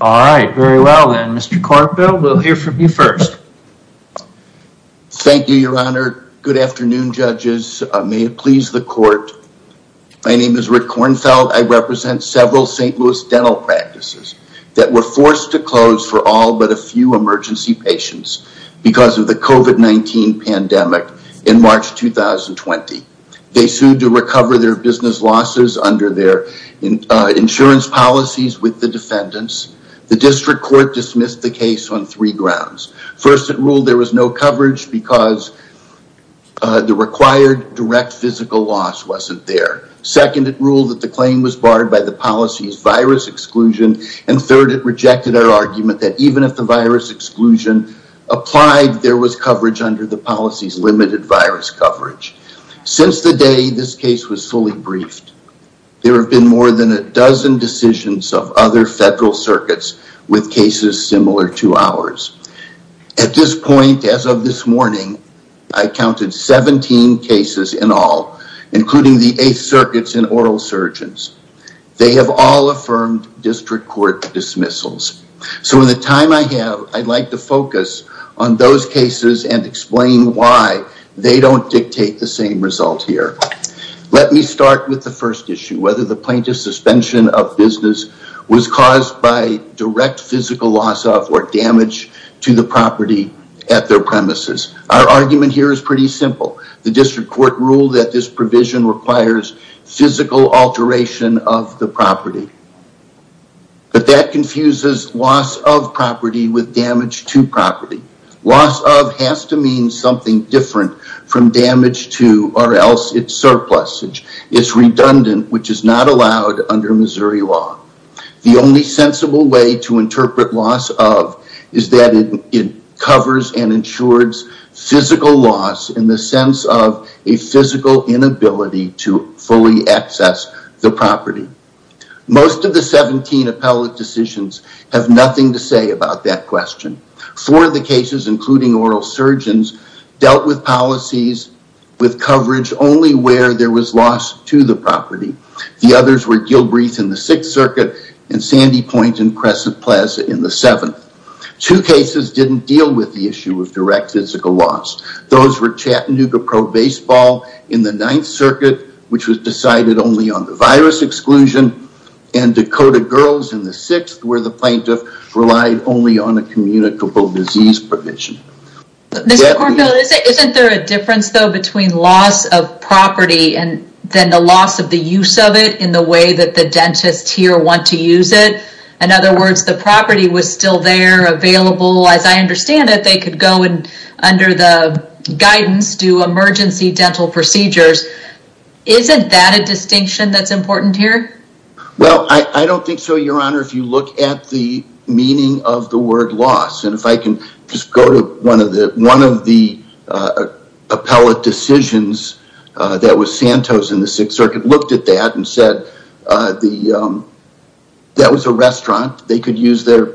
All right, very well then Mr. Kornfeld, we'll hear from you first. Thank you, your honor. Good afternoon, judges. May it please the court. My name is Rick Kornfeld. I represent several St. Louis dental practices that were forced to close for all but a few emergency patients because of the COVID-19 pandemic in March 2020. They sued to recover their business losses under their insurance policies with the defendants. The district court dismissed the case on three grounds. First, it ruled there was no coverage because the required direct physical loss wasn't there. Second, it ruled that the claim was barred by the policy's virus exclusion. And third, it rejected our argument that even if the virus exclusion applied, there was coverage under the policy's limited virus coverage. Since the day this case was fully briefed, there have been more than a dozen decisions of other federal circuits with cases similar to ours. At this point, as of this morning, I counted 17 cases in all, including the eighth circuits and oral surgeons. They have all affirmed district court dismissals. So in the time I have, I'd like to focus on those cases and explain why they don't dictate the same result here. Let me start with the first issue, whether the plaintiff's suspension of business was caused by direct physical loss of or damage to the property at their premises. Our argument here is pretty simple. The district court ruled that this provision requires physical alteration of the property, but that confuses loss of property with damage to property. Loss of has to mean something different from damage to, or else it's surplusage. It's redundant, which is not allowed under Missouri law. The only sensible way to interpret loss of is that it covers and ensures physical loss in the sense of a physical inability to fully access the property. Most of the 17 appellate decisions have nothing to say about that question. Four of the cases, including oral surgeons, dealt with policies with coverage only where there was loss to the property. The others were Gilbreath in the sixth circuit and Sandy Point in Crescent Plaza in the seventh. Two cases didn't deal with the issue of direct physical loss. Those were Chattanooga Pro Baseball in the ninth circuit, which was decided only on the virus exclusion, and Dakota Girls in the sixth where the plaintiff relied only on a communicable disease provision. Isn't there a difference though between loss of property and then the loss of the use of it in the way that the dentists here want to use it? In other words, the property was still there available, as I understand it, they could go and under the guidance do emergency dental procedures. Isn't that a distinction that's at the meaning of the word loss? If I can just go to one of the appellate decisions that was Santos in the sixth circuit, looked at that and said that was a restaurant. They could use their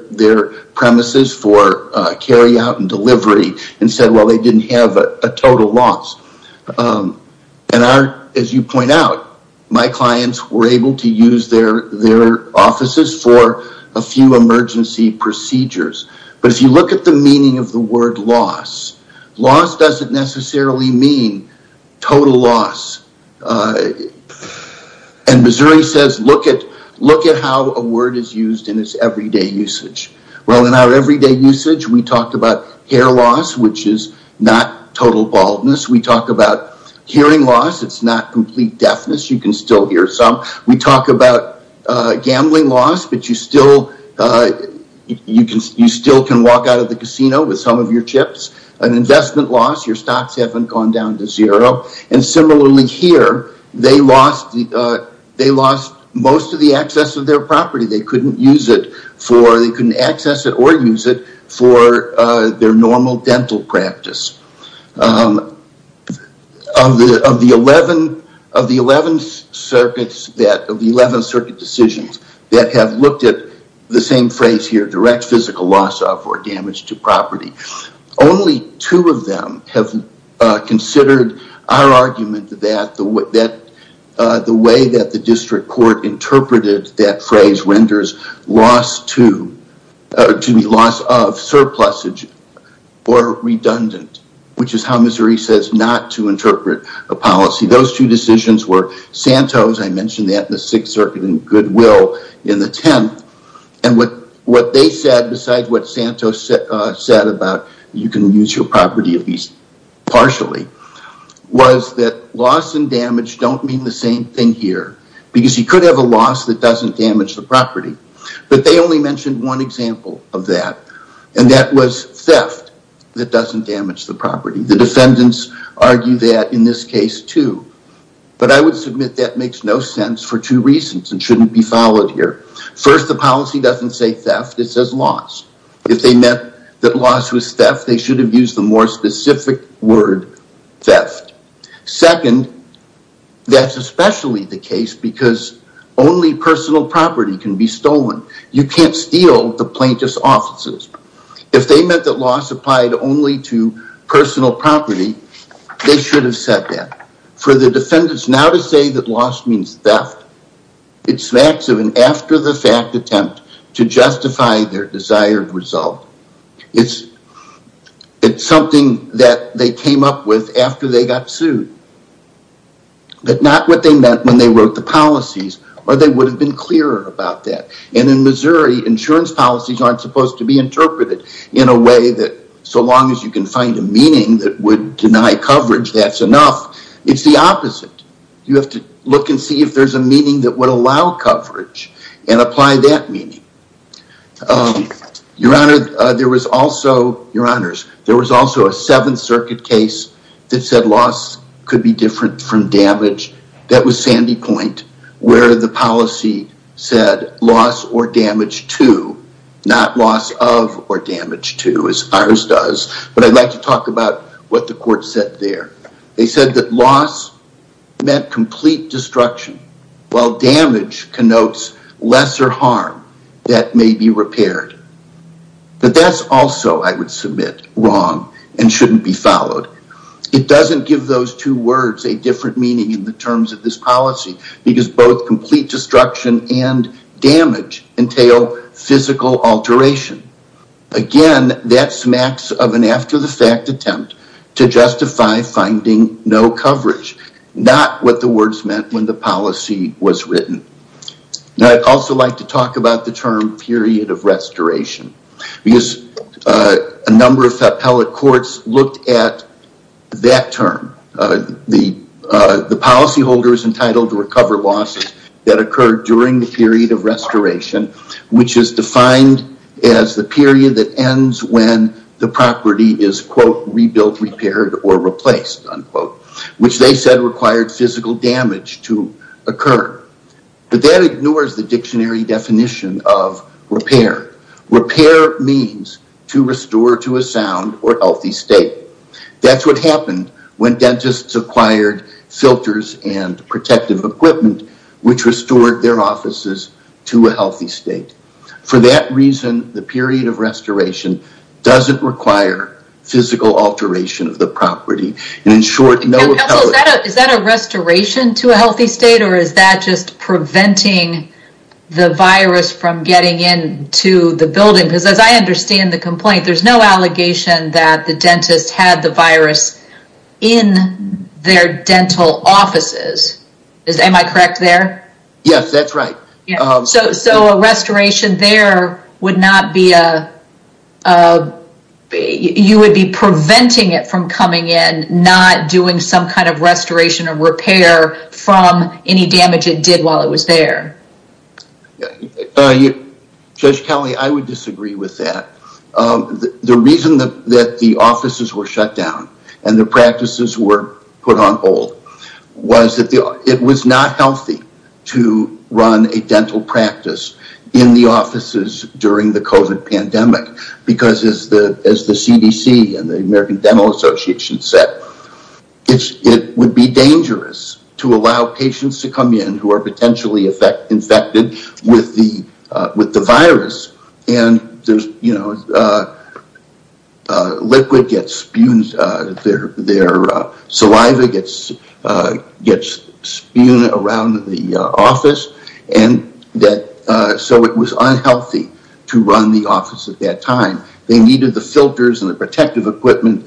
premises for carry out and delivery and said, well, they didn't have a total loss. As you point out, my clients were able to use their offices for a few emergency procedures. But if you look at the meaning of the word loss, loss doesn't necessarily mean total loss. Missouri says, look at how a word is used in its everyday usage. Well, in our everyday usage, we talked about hair loss, which is not total baldness. We talk about hearing loss. It's not complete deafness. You can still hear some. We talk about gambling loss, but you still can walk out of the casino with some of your chips. An investment loss, your stocks haven't gone down to zero. Similarly here, they lost most of the access of their normal dental practice. Of the 11 circuit decisions that have looked at the same phrase here, direct physical loss of or damage to property, only two of them have considered our argument that the way that the district court interpreted that phrase renders loss of surplusage or redundant, which is how Missouri says not to interpret a policy. Those two decisions were Santos, I mentioned that in the Sixth Circuit and Goodwill in the 10th. What they said besides what that loss and damage don't mean the same thing here, because you could have a loss that doesn't damage the property, but they only mentioned one example of that, and that was theft that doesn't damage the property. The defendants argue that in this case too, but I would submit that makes no sense for two reasons and shouldn't be followed here. First, the policy doesn't say theft. It says loss. If they meant that loss was theft, they should have used the more specific word theft. Second, that's especially the case because only personal property can be stolen. You can't steal the plaintiff's offices. If they meant that loss applied only to personal property, they should have said that. For the defendants now to say that loss means theft, it's facts of an after the fact attempt to justify their desired result. It's something that they came up with after they got sued, but not what they meant when they wrote the policies or they would have been clearer about that. In Missouri, insurance policies aren't supposed to be interpreted in a way that so long as you can find a meaning that would deny coverage, that's enough. It's the opposite. You have to look and see if there's a meaning that would allow coverage and apply that meaning. Your honors, there was also a Seventh Circuit case that said loss could be different from damage. That was Sandy Point where the policy said loss or damage to, not loss of or damage to as ours does, but I'd like to talk about what the court said there. They said that loss meant complete destruction while damage connotes lesser harm that may be repaired. But that's also, I would submit, wrong and shouldn't be followed. It doesn't give those two words a different meaning in the terms of this policy because both complete destruction and damage entail physical alteration. Again, that smacks of an after the fact attempt to justify finding no coverage, not what the words meant when the policy was written. Now, I'd also like to talk about the term period of restoration because a number of appellate courts looked at that term. The policy holder is entitled to recover losses that occurred during the period of restoration, which is defined as the period that ends when the property is, quote, rebuilt, repaired, or replaced, unquote, which they said required physical damage to occur. But that ignores the dictionary definition of repair. Repair means to restore to a sound or healthy state. That's what happened when dentists acquired filters and protective equipment, which restored their offices to a healthy state. For that reason, the period of restoration doesn't require physical alteration of the property. In short, no appellate- Is that a restoration to a healthy state or is that just preventing the virus from getting into the building? Because as I understand the complaint, there's no allegation that the dentist had the virus in their dental offices. Am I correct there? Yes, that's right. So a restoration there would not be a... You would be preventing it from coming in, not doing some kind of restoration or repair from any damage it did while it was there. Judge Kelly, I would disagree with that. The reason that the offices were shut down and the practices were put on hold was that it was not healthy to run a dental practice in the offices during the COVID pandemic. Because as the CDC and the American Dental Association said, it would be dangerous to allow patients to come in who are potentially infected with the virus. Liquid gets spewed, their saliva gets spewed around the office, so it was unhealthy to run the office at that time. They needed the filters and the protective equipment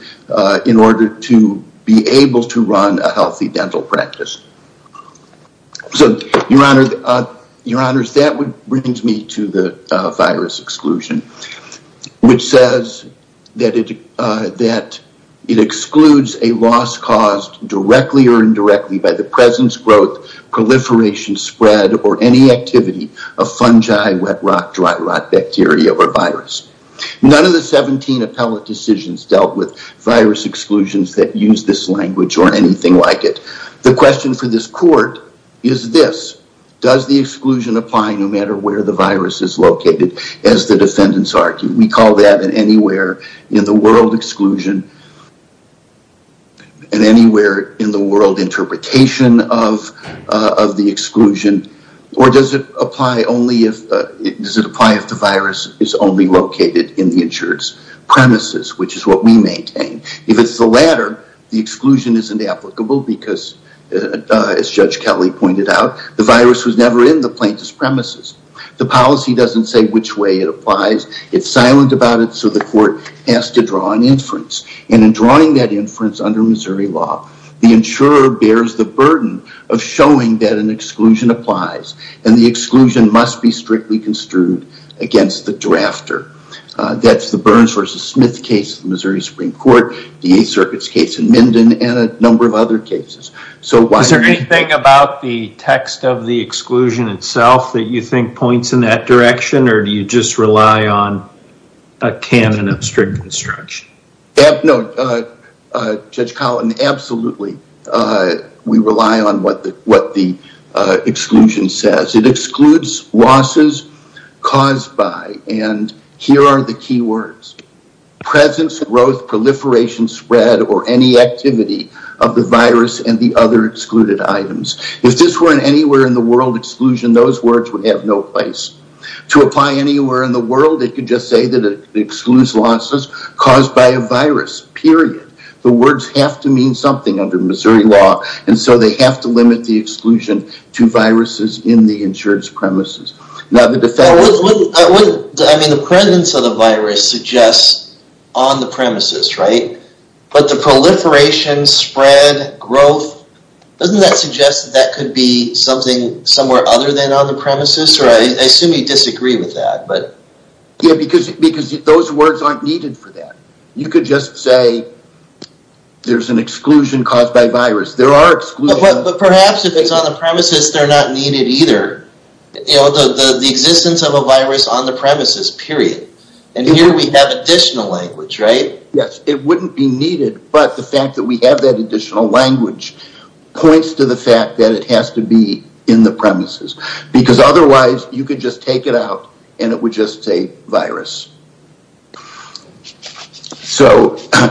in order to be able to run a healthy dental practice. So your honors, that brings me to the virus exclusion, which says that it excludes a loss caused directly or indirectly by the presence, growth, proliferation, spread, or any activity of fungi, wet rot, dry rot, bacteria, or virus. None of the 17 appellate decisions dealt with virus exclusions that use this language or anything like it. The question for this court is this, does the exclusion apply no matter where the virus is located, as the defendants argue? We call that an anywhere in the world exclusion and anywhere in the world interpretation of the exclusion, or does it apply if the virus is only located in the insured's premises, which is what we maintain? If it's the latter, the exclusion isn't applicable because as Judge Kelly pointed out, the virus was never in the plaintiff's premises. The policy doesn't say which way it applies. It's silent about it, so the court has to draw an inference, and in drawing that inference under Missouri law, the insurer bears the burden of showing that an exclusion applies, and the exclusion must be strictly construed against the drafter. That's the Burns versus Smith case in Missouri Supreme Court, the Eighth Circuit's case in Minden, and a number of other cases. So is there anything about the text of the exclusion itself that you think points in that direction, or do you just rely on a canon of strict construction? No, Judge Collin, absolutely. We rely on what the exclusion says. It excludes losses caused by, and here are the key words, presence, growth, proliferation, spread, or any activity of the virus and the other excluded items. If this were an anywhere in the world exclusion, those words would have no place. To apply anywhere in the world, it could just say that it excludes losses caused by a virus, period. The words have to mean something under Missouri law, and so they have to limit the exclusion to viruses in the insured's premises. Now the defense- I mean, the presence of the virus suggests on the premises, right? But the proliferation, spread, growth, doesn't that suggest that that could be something somewhere other than on the premises? I assume you disagree with that, but- Yeah, because those words aren't needed for that. You could just say, there's an exclusion caused by virus. There are exclusions- But perhaps if it's on the premises, they're not needed either. The existence of a virus on the premises, period. And here we have additional language, right? Yes, it wouldn't be needed, but the fact that we have that additional language points to the fact that it has to be in the premises. Because otherwise, you could just take it out and it would just say virus.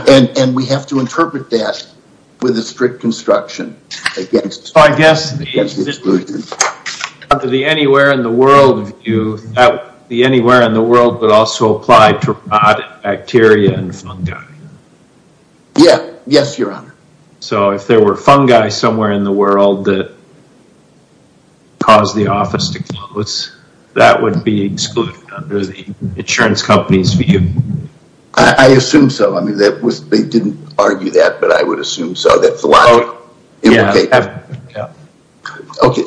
And we have to interpret that with a strict construction against- I guess the anywhere in the world view, the anywhere in the world would also apply to fungi somewhere in the world that caused the office to close. That would be excluded under the insurance company's view. I assume so. I mean, that was- they didn't argue that, but I would assume so. That's the logic. Okay.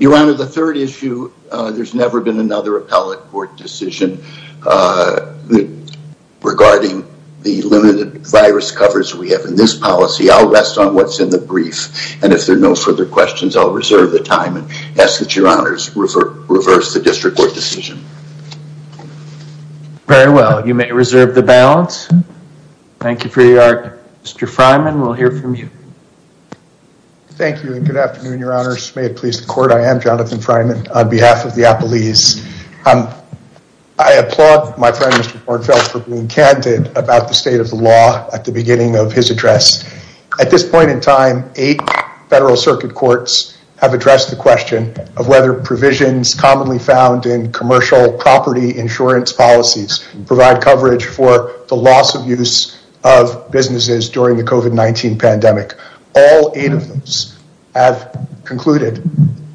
Your Honor, the third issue, there's never been another appellate court decision regarding the limited virus coverage we have in this policy. I'll rest on what's in the brief. And if there are no further questions, I'll reserve the time and ask that Your Honors reverse the district court decision. Very well. You may reserve the balance. Thank you for your- Mr. Fryman, we'll hear from you. Thank you and good afternoon, Your Honors. May it please the court. I am Jonathan Fryman on behalf of the appellees. I applaud my friend, Mr. Kornfeld, for being candid about the state of the law at the beginning of his address. At this point in time, eight federal circuit courts have addressed the question of whether provisions commonly found in commercial property insurance policies provide coverage for the loss of use of businesses during the COVID-19 pandemic. All eight of those have concluded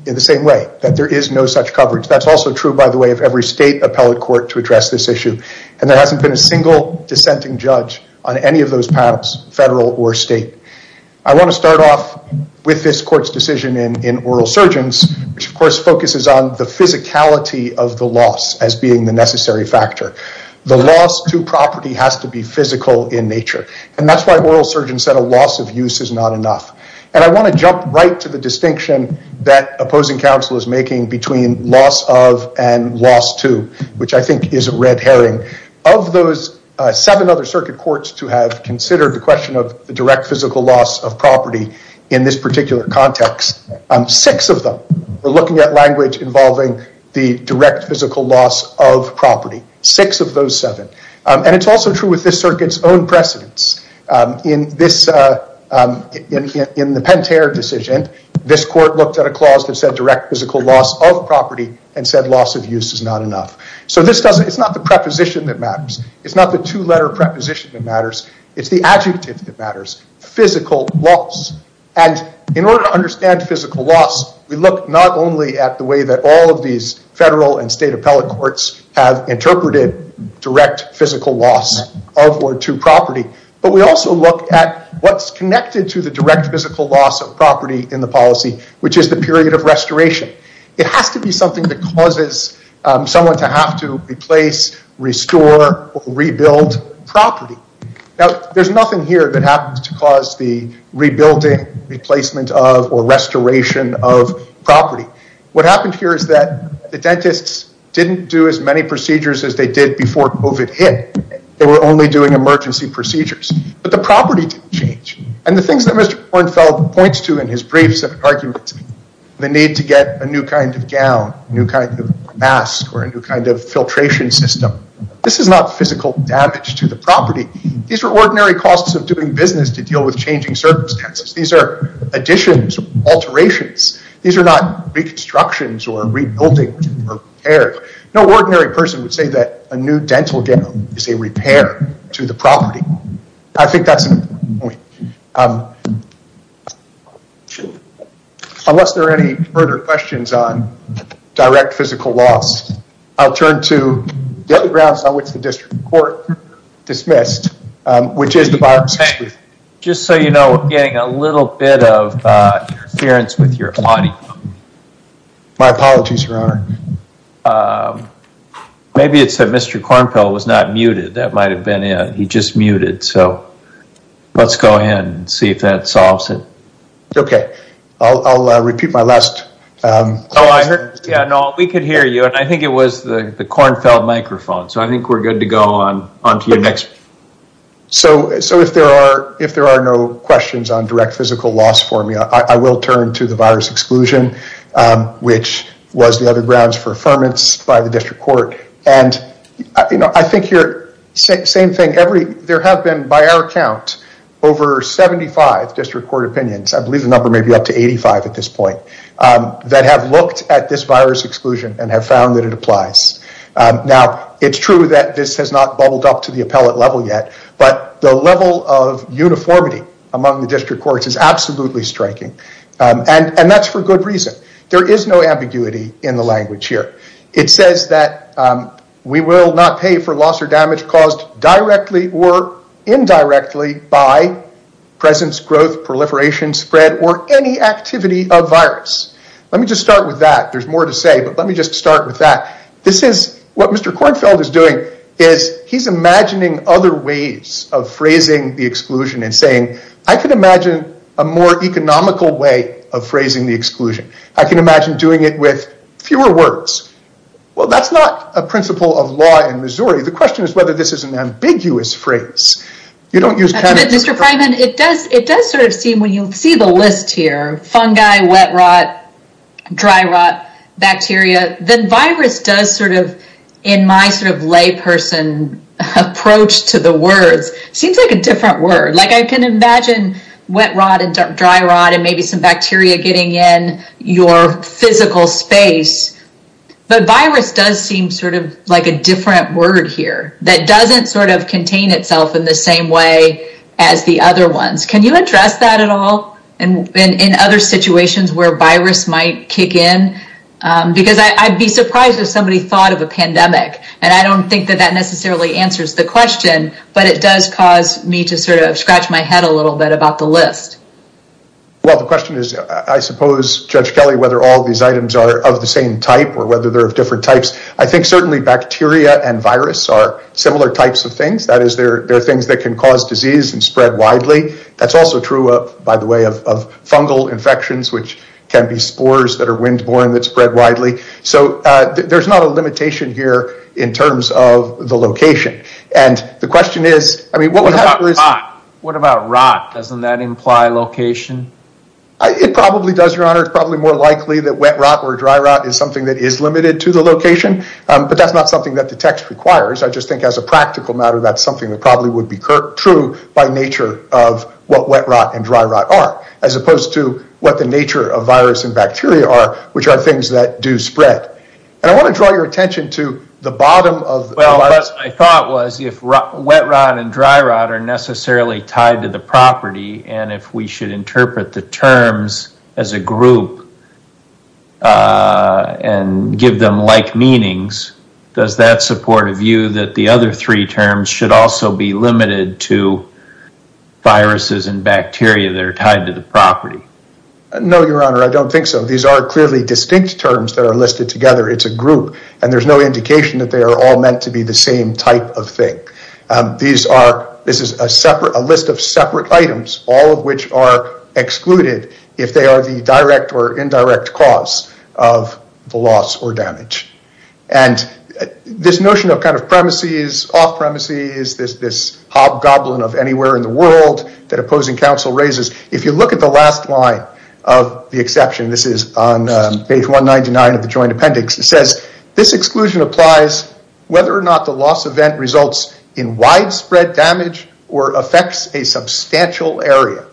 in the same way, that there is no such coverage. That's also true, by the way, of every state appellate court to address this issue. And there hasn't been a single dissenting judge on any of those panels, federal or state. I want to start off with this court's decision in oral surgeons, which of course focuses on the physicality of the loss as being the necessary factor. The loss to property has to be physical in nature. And that's why oral surgeons said a loss of use is not enough. And I want to jump right to the distinction that opposing counsel is making between loss of and loss to, which I think is a red herring. Of those seven other circuit courts to have considered the question of the direct physical loss of property in this particular context, six of them are looking at language involving the direct physical loss of property. Six of those seven. And it's also true with this circuit's own precedents. In the Pentair decision, this court looked at a clause that said direct physical loss of property and said loss of use is not enough. So it's not the preposition that matters. It's not the two letter preposition that matters. It's the adjective that matters, physical loss. And in order to understand physical loss, we look not only at the way that all of these federal and state appellate have interpreted direct physical loss of or to property, but we also look at what's connected to the direct physical loss of property in the policy, which is the period of restoration. It has to be something that causes someone to have to replace, restore, or rebuild property. Now, there's nothing here that happens to cause the rebuilding, replacement of, or restoration of as many procedures as they did before COVID hit. They were only doing emergency procedures, but the property didn't change. And the things that Mr. Kornfeld points to in his briefs of arguments, the need to get a new kind of gown, new kind of mask, or a new kind of filtration system, this is not physical damage to the property. These are ordinary costs of doing business to deal with changing circumstances. These are additions, alterations. These are not reconstructions or rebuilding or repairs. No ordinary person would say that a new dental gown is a repair to the property. I think that's an important point. Unless there are any further questions on direct physical loss, I'll turn to the other grounds on which the district court dismissed, which is the biosecurity. Just so you know, we're getting a little bit of interference with your audio. My apologies, Your Honor. Maybe it's that Mr. Kornfeld was not muted. That might have been it. He just muted. So let's go ahead and see if that solves it. Okay. I'll repeat my last. Yeah, no, we could hear you. And I think it was the Kornfeld microphone. So I think we're good to on to your next. So if there are no questions on direct physical loss for me, I will turn to the virus exclusion, which was the other grounds for affirmance by the district court. And I think same thing. There have been, by our count, over 75 district court opinions. I believe the number may be up to 85 at this point, that have looked at this virus exclusion and have found that it has not bubbled up to the appellate level yet. But the level of uniformity among the district courts is absolutely striking. And that's for good reason. There is no ambiguity in the language here. It says that we will not pay for loss or damage caused directly or indirectly by presence, growth, proliferation, spread, or any activity of virus. Let me just start with that. There's he's imagining other ways of phrasing the exclusion and saying, I could imagine a more economical way of phrasing the exclusion. I can imagine doing it with fewer words. Well, that's not a principle of law in Missouri. The question is whether this is an ambiguous phrase. You don't use- Mr. Freiman, it does sort of seem when you see the list here, fungi, wet rot, dry rot, bacteria, then virus does sort of, in my sort of lay person approach to the words, seems like a different word. Like I can imagine wet rot and dry rot and maybe some bacteria getting in your physical space. But virus does seem sort of like a different word here that doesn't sort of contain itself in the same way as the other ones. Can you address that at all? And in other situations where virus might kick in? Because I'd be surprised if somebody thought of a pandemic. And I don't think that that necessarily answers the question, but it does cause me to sort of scratch my head a little bit about the list. Well, the question is, I suppose, Judge Kelly, whether all of these items are of the same type or whether they're of different types. I think certainly bacteria and virus are similar types of things. That is, they're things that can cause disease and spread widely. That's also true, by the way, of fungal infections, which can be spores that are wind borne that spread widely. So there's not a limitation here in terms of the location. And the question is, I mean, what about rot? Doesn't that imply location? It probably does, your honor. It's probably more likely that wet rot or dry rot is something that is limited to the location, but that's not something that the text requires. I just think as a practical matter, that's probably would be true by nature of what wet rot and dry rot are, as opposed to what the nature of virus and bacteria are, which are things that do spread. And I want to draw your attention to the bottom of the list. Well, what I thought was if wet rot and dry rot are necessarily tied to the property, and if we should interpret the terms as a group and give them like meanings, does that support a view that the other three terms should also be limited to viruses and bacteria that are tied to the property? No, your honor. I don't think so. These are clearly distinct terms that are listed together. It's a group and there's no indication that they are all meant to be the same type of thing. This is a list of separate items, all of which are excluded if they are the direct or indirect cause of the loss or damage. And this notion of kind of premises, off-premises, this hobgoblin of anywhere in the world that opposing counsel raises, if you look at the last line of the exception, this is on page 199 of the joint appendix, it says, this exclusion applies whether or not the loss event results in widespread damage or affects a substantial area.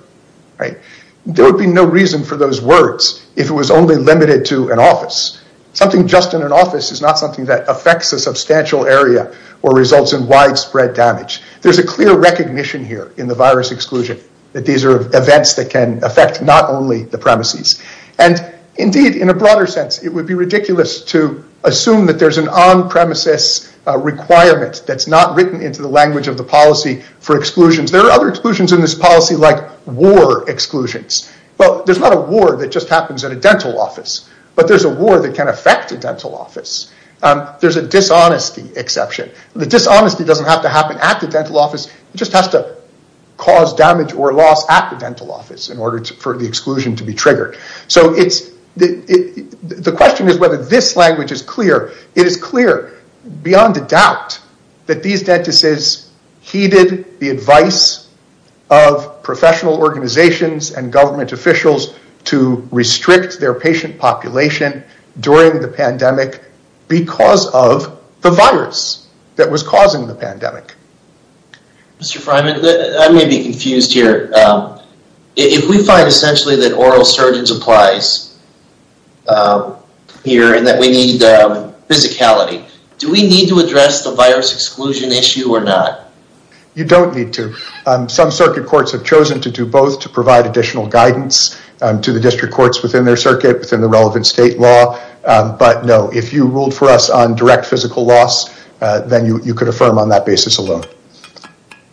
There would be no reason for those words if it was only limited to an office. Something just in an office is not something that affects a substantial area or results in widespread damage. There's a clear recognition here in the virus exclusion that these are events that can affect not only the premises. And indeed, in a broader sense, it would be ridiculous to assume that there's an on-premises requirement that's not written into the language of the policy for exclusions. There are other exclusions in this a dental office, but there's a war that can affect a dental office. There's a dishonesty exception. The dishonesty doesn't have to happen at the dental office. It just has to cause damage or loss at the dental office in order for the exclusion to be triggered. So the question is whether this language is clear. It is clear beyond a doubt that these dentists heeded the advice of professional organizations and government officials to restrict their patient population during the pandemic because of the virus that was causing the pandemic. Mr. Fryman, I may be confused here. If we find essentially that oral surgeons applies here and that we need physicality, do we need to address the virus exclusion issue or not? You don't need to. Some circuit courts have chosen to do both to provide additional guidance to the district courts within their circuit, within the relevant state law. But no, if you ruled for us on direct physical loss, then you could affirm on that basis alone.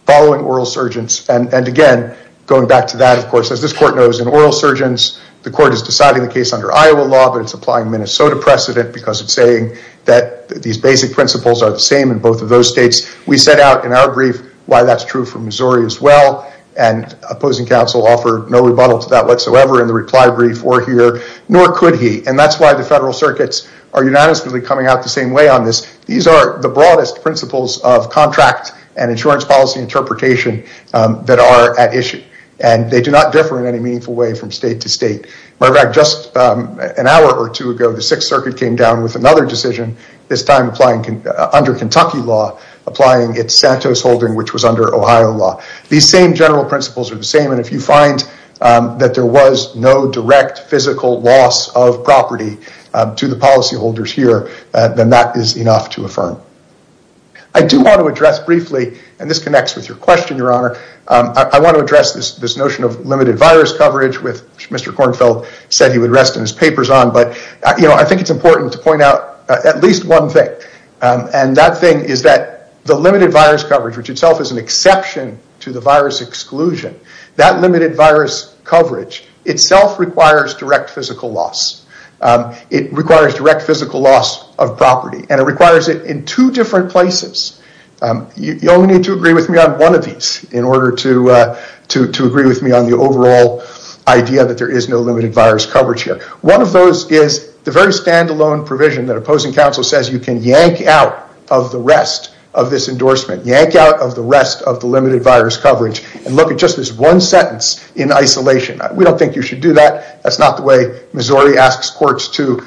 Following oral surgeons and again, going back to that, of course, as this court knows in oral surgeons, the court is deciding the case under Iowa law, but it's applying Minnesota precedent because it's saying that these basic principles are the same in both of those states. We set out in our brief why that's true for Missouri as well. And opposing counsel offered no rebuttal to that whatsoever in the reply brief or here, nor could he. And that's why the federal circuits are unanimously coming out the same way on this. These are the broadest principles of contract and insurance policy interpretation that are at issue and they do not differ in any meaningful way from state to state. In fact, just an hour or two ago, the sixth circuit came down with another decision, this time applying under Kentucky law, applying its Santos holding, which was under Ohio law. These same general principles are the same. And if you find that there was no direct physical loss of property to the policy holders here, then that is enough to affirm. I do want to address briefly, and this connects with your question, your honor. I want to address this notion of limited virus coverage with Mr. Kornfeld said he would rest in his papers on, but I think it's important to point out at least one thing. And that thing is that the limited virus coverage, which itself is an exception to the virus exclusion, that limited virus coverage itself requires direct physical loss. It requires direct physical loss of property and it requires it in two different places. You only need to agree with me on one of these in order to, to, to agree with me on the overall idea that there is no limited virus coverage here. One of those is the very standalone provision that opposing counsel says you can yank out of the rest of this endorsement, yank out of the rest of the limited virus coverage and look at just this one sentence in isolation. We don't think you should do that. That's not the way Missouri asks courts to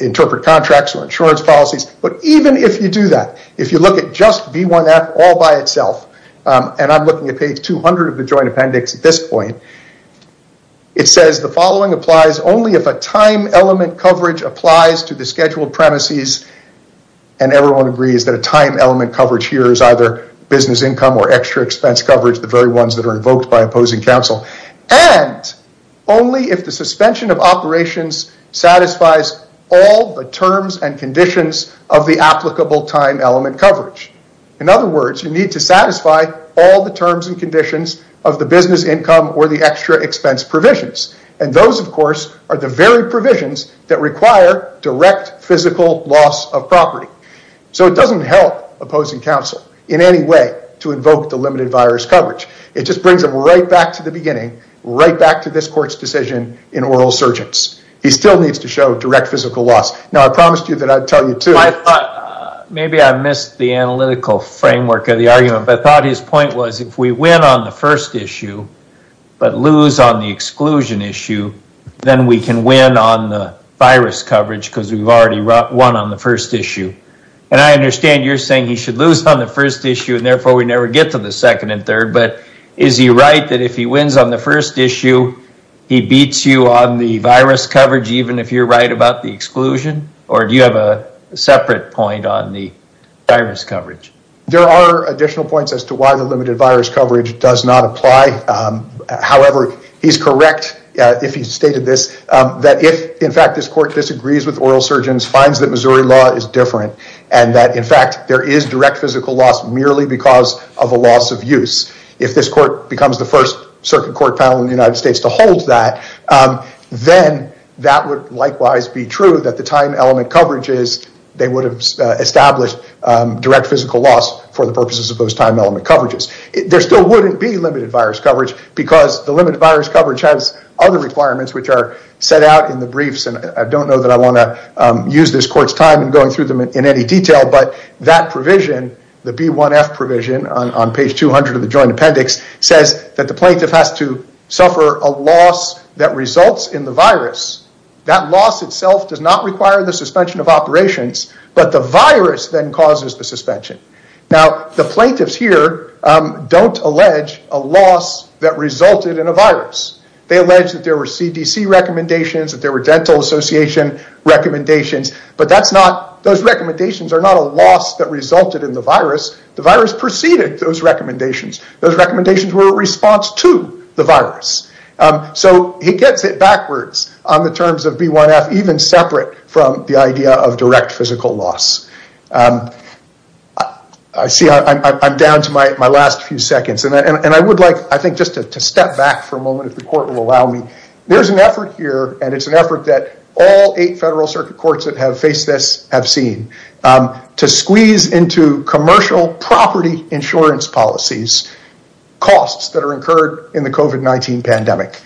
interpret contracts or insurance policies. But even if you do that, if you look at just B1F all by itself, and I'm looking at page 200 of the joint appendix at this point, it says the following applies only if a time element coverage applies to the scheduled premises. And everyone agrees that a time element coverage here is either business income or extra expense coverage, the very ones that are invoked by opposing counsel. And only if the suspension of operations satisfies all the terms and conditions of the applicable time element coverage. In other words, you need to satisfy all the terms and conditions of the business income or the extra expense provisions. And those of course are the very provisions that require direct physical loss of property. So it doesn't help opposing counsel in any way to invoke the limited virus coverage. It just brings them right back to the beginning, right back to this court's decision in oral surgence. He still needs to show direct physical loss. Now I promised you that I'd tell you too. I thought maybe I missed the analytical framework of the argument, but I thought his point was if we win on the first issue, but lose on the exclusion issue, then we can win on the virus coverage because we've already won on the first issue. And I understand you're saying he should lose on the first issue and therefore we never get to the second and third. But is he right that if he wins on the first issue, he beats you on the virus coverage even if you're right about the exclusion? Or do you have a separate point on the virus coverage? There are additional points as to why the limited virus coverage does not apply. However, he's correct if he stated this, that if in fact this court disagrees with oral surgence, finds that Missouri law is different, and that in direct physical loss merely because of a loss of use. If this court becomes the first circuit court panel in the United States to hold that, then that would likewise be true that the time element coverages, they would have established direct physical loss for the purposes of those time element coverages. There still wouldn't be limited virus coverage because the limited virus coverage has other requirements which are set out in the briefs. And I don't know that I want to use this court's time in going through them in any detail, but that provision, the B1F provision on page 200 of the joint appendix, says that the plaintiff has to suffer a loss that results in the virus. That loss itself does not require the suspension of operations, but the virus then causes the suspension. Now the plaintiffs here don't allege a loss that resulted in a virus. They allege that there were CDC recommendations, that there were dental association recommendations, but that's not, those recommendations are not a loss that resulted in the virus. The virus preceded those recommendations. Those recommendations were a response to the virus. So he gets it backwards on the terms of B1F, even separate from the idea of direct physical loss. I see I'm down to my There's an effort here, and it's an effort that all eight federal circuit courts that have faced this have seen, to squeeze into commercial property insurance policies costs that are incurred in the COVID-19 pandemic.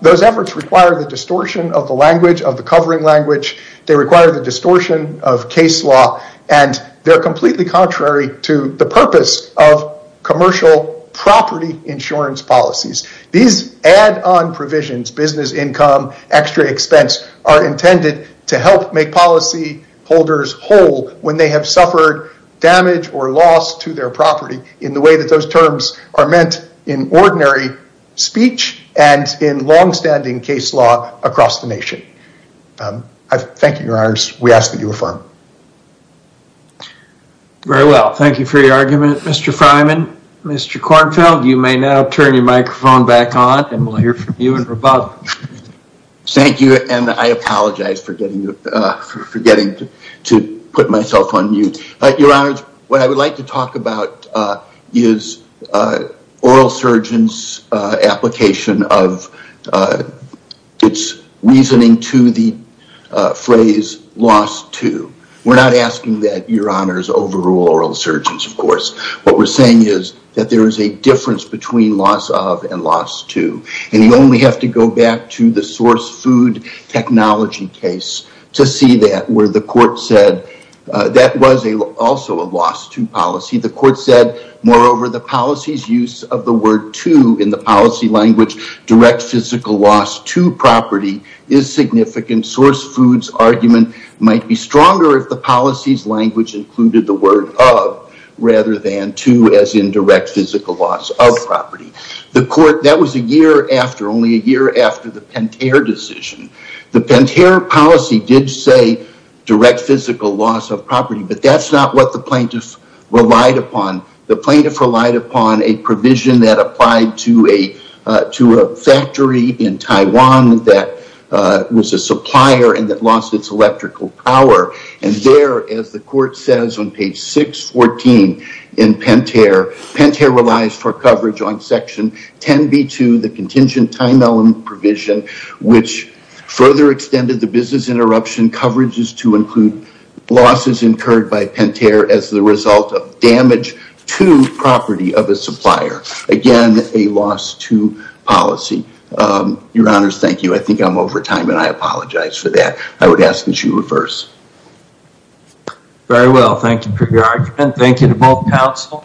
Those efforts require the distortion of the language of the covering language. They require the distortion of case law, and they're completely contrary to the purpose of commercial property insurance policies. These add-on provisions, business income, extra expense, are intended to help make policy holders whole when they have suffered damage or loss to their property in the way that those terms are meant in ordinary speech and in long-standing case law across the nation. I thank you, your honors. We ask that you affirm. Very well. Thank you for your argument, Mr. Freiman. Mr. Kornfeld, you may now turn your microphone back on, and we'll hear from you in rebuttal. Thank you, and I apologize for getting to put myself on mute. Your honors, what I would like to talk about is oral surgeon's application of its reasoning to the phrase loss to. We're not asking that your honors overrule oral surgeons, of course. What we're saying is that there is a difference between loss of and loss to, and you only have to go back to the source food technology case to see that where the court said that was also a loss to policy. The court said, moreover, the policy's use of the word to in the language direct physical loss to property is significant. Source food's argument might be stronger if the policy's language included the word of rather than to as in direct physical loss of property. The court, that was a year after, only a year after the Pentair decision. The Pentair policy did say direct physical loss of property, but that's not what the plaintiff relied upon. The plaintiff relied upon a provision that applied to a factory in Taiwan that was a supplier and that lost its electrical power. There, as the court says on page 614 in Pentair, Pentair relies for coverage on section 10B2, the contingent time element provision, which further extended the business interruption coverages to include losses incurred by Pentair as the result of damage to property of a supplier. Again, a loss to policy. Your honors, thank you. I think I'm over time and I apologize for that. I would ask that you reverse. Very well. Thank you for your argument. Thank you to both counsel.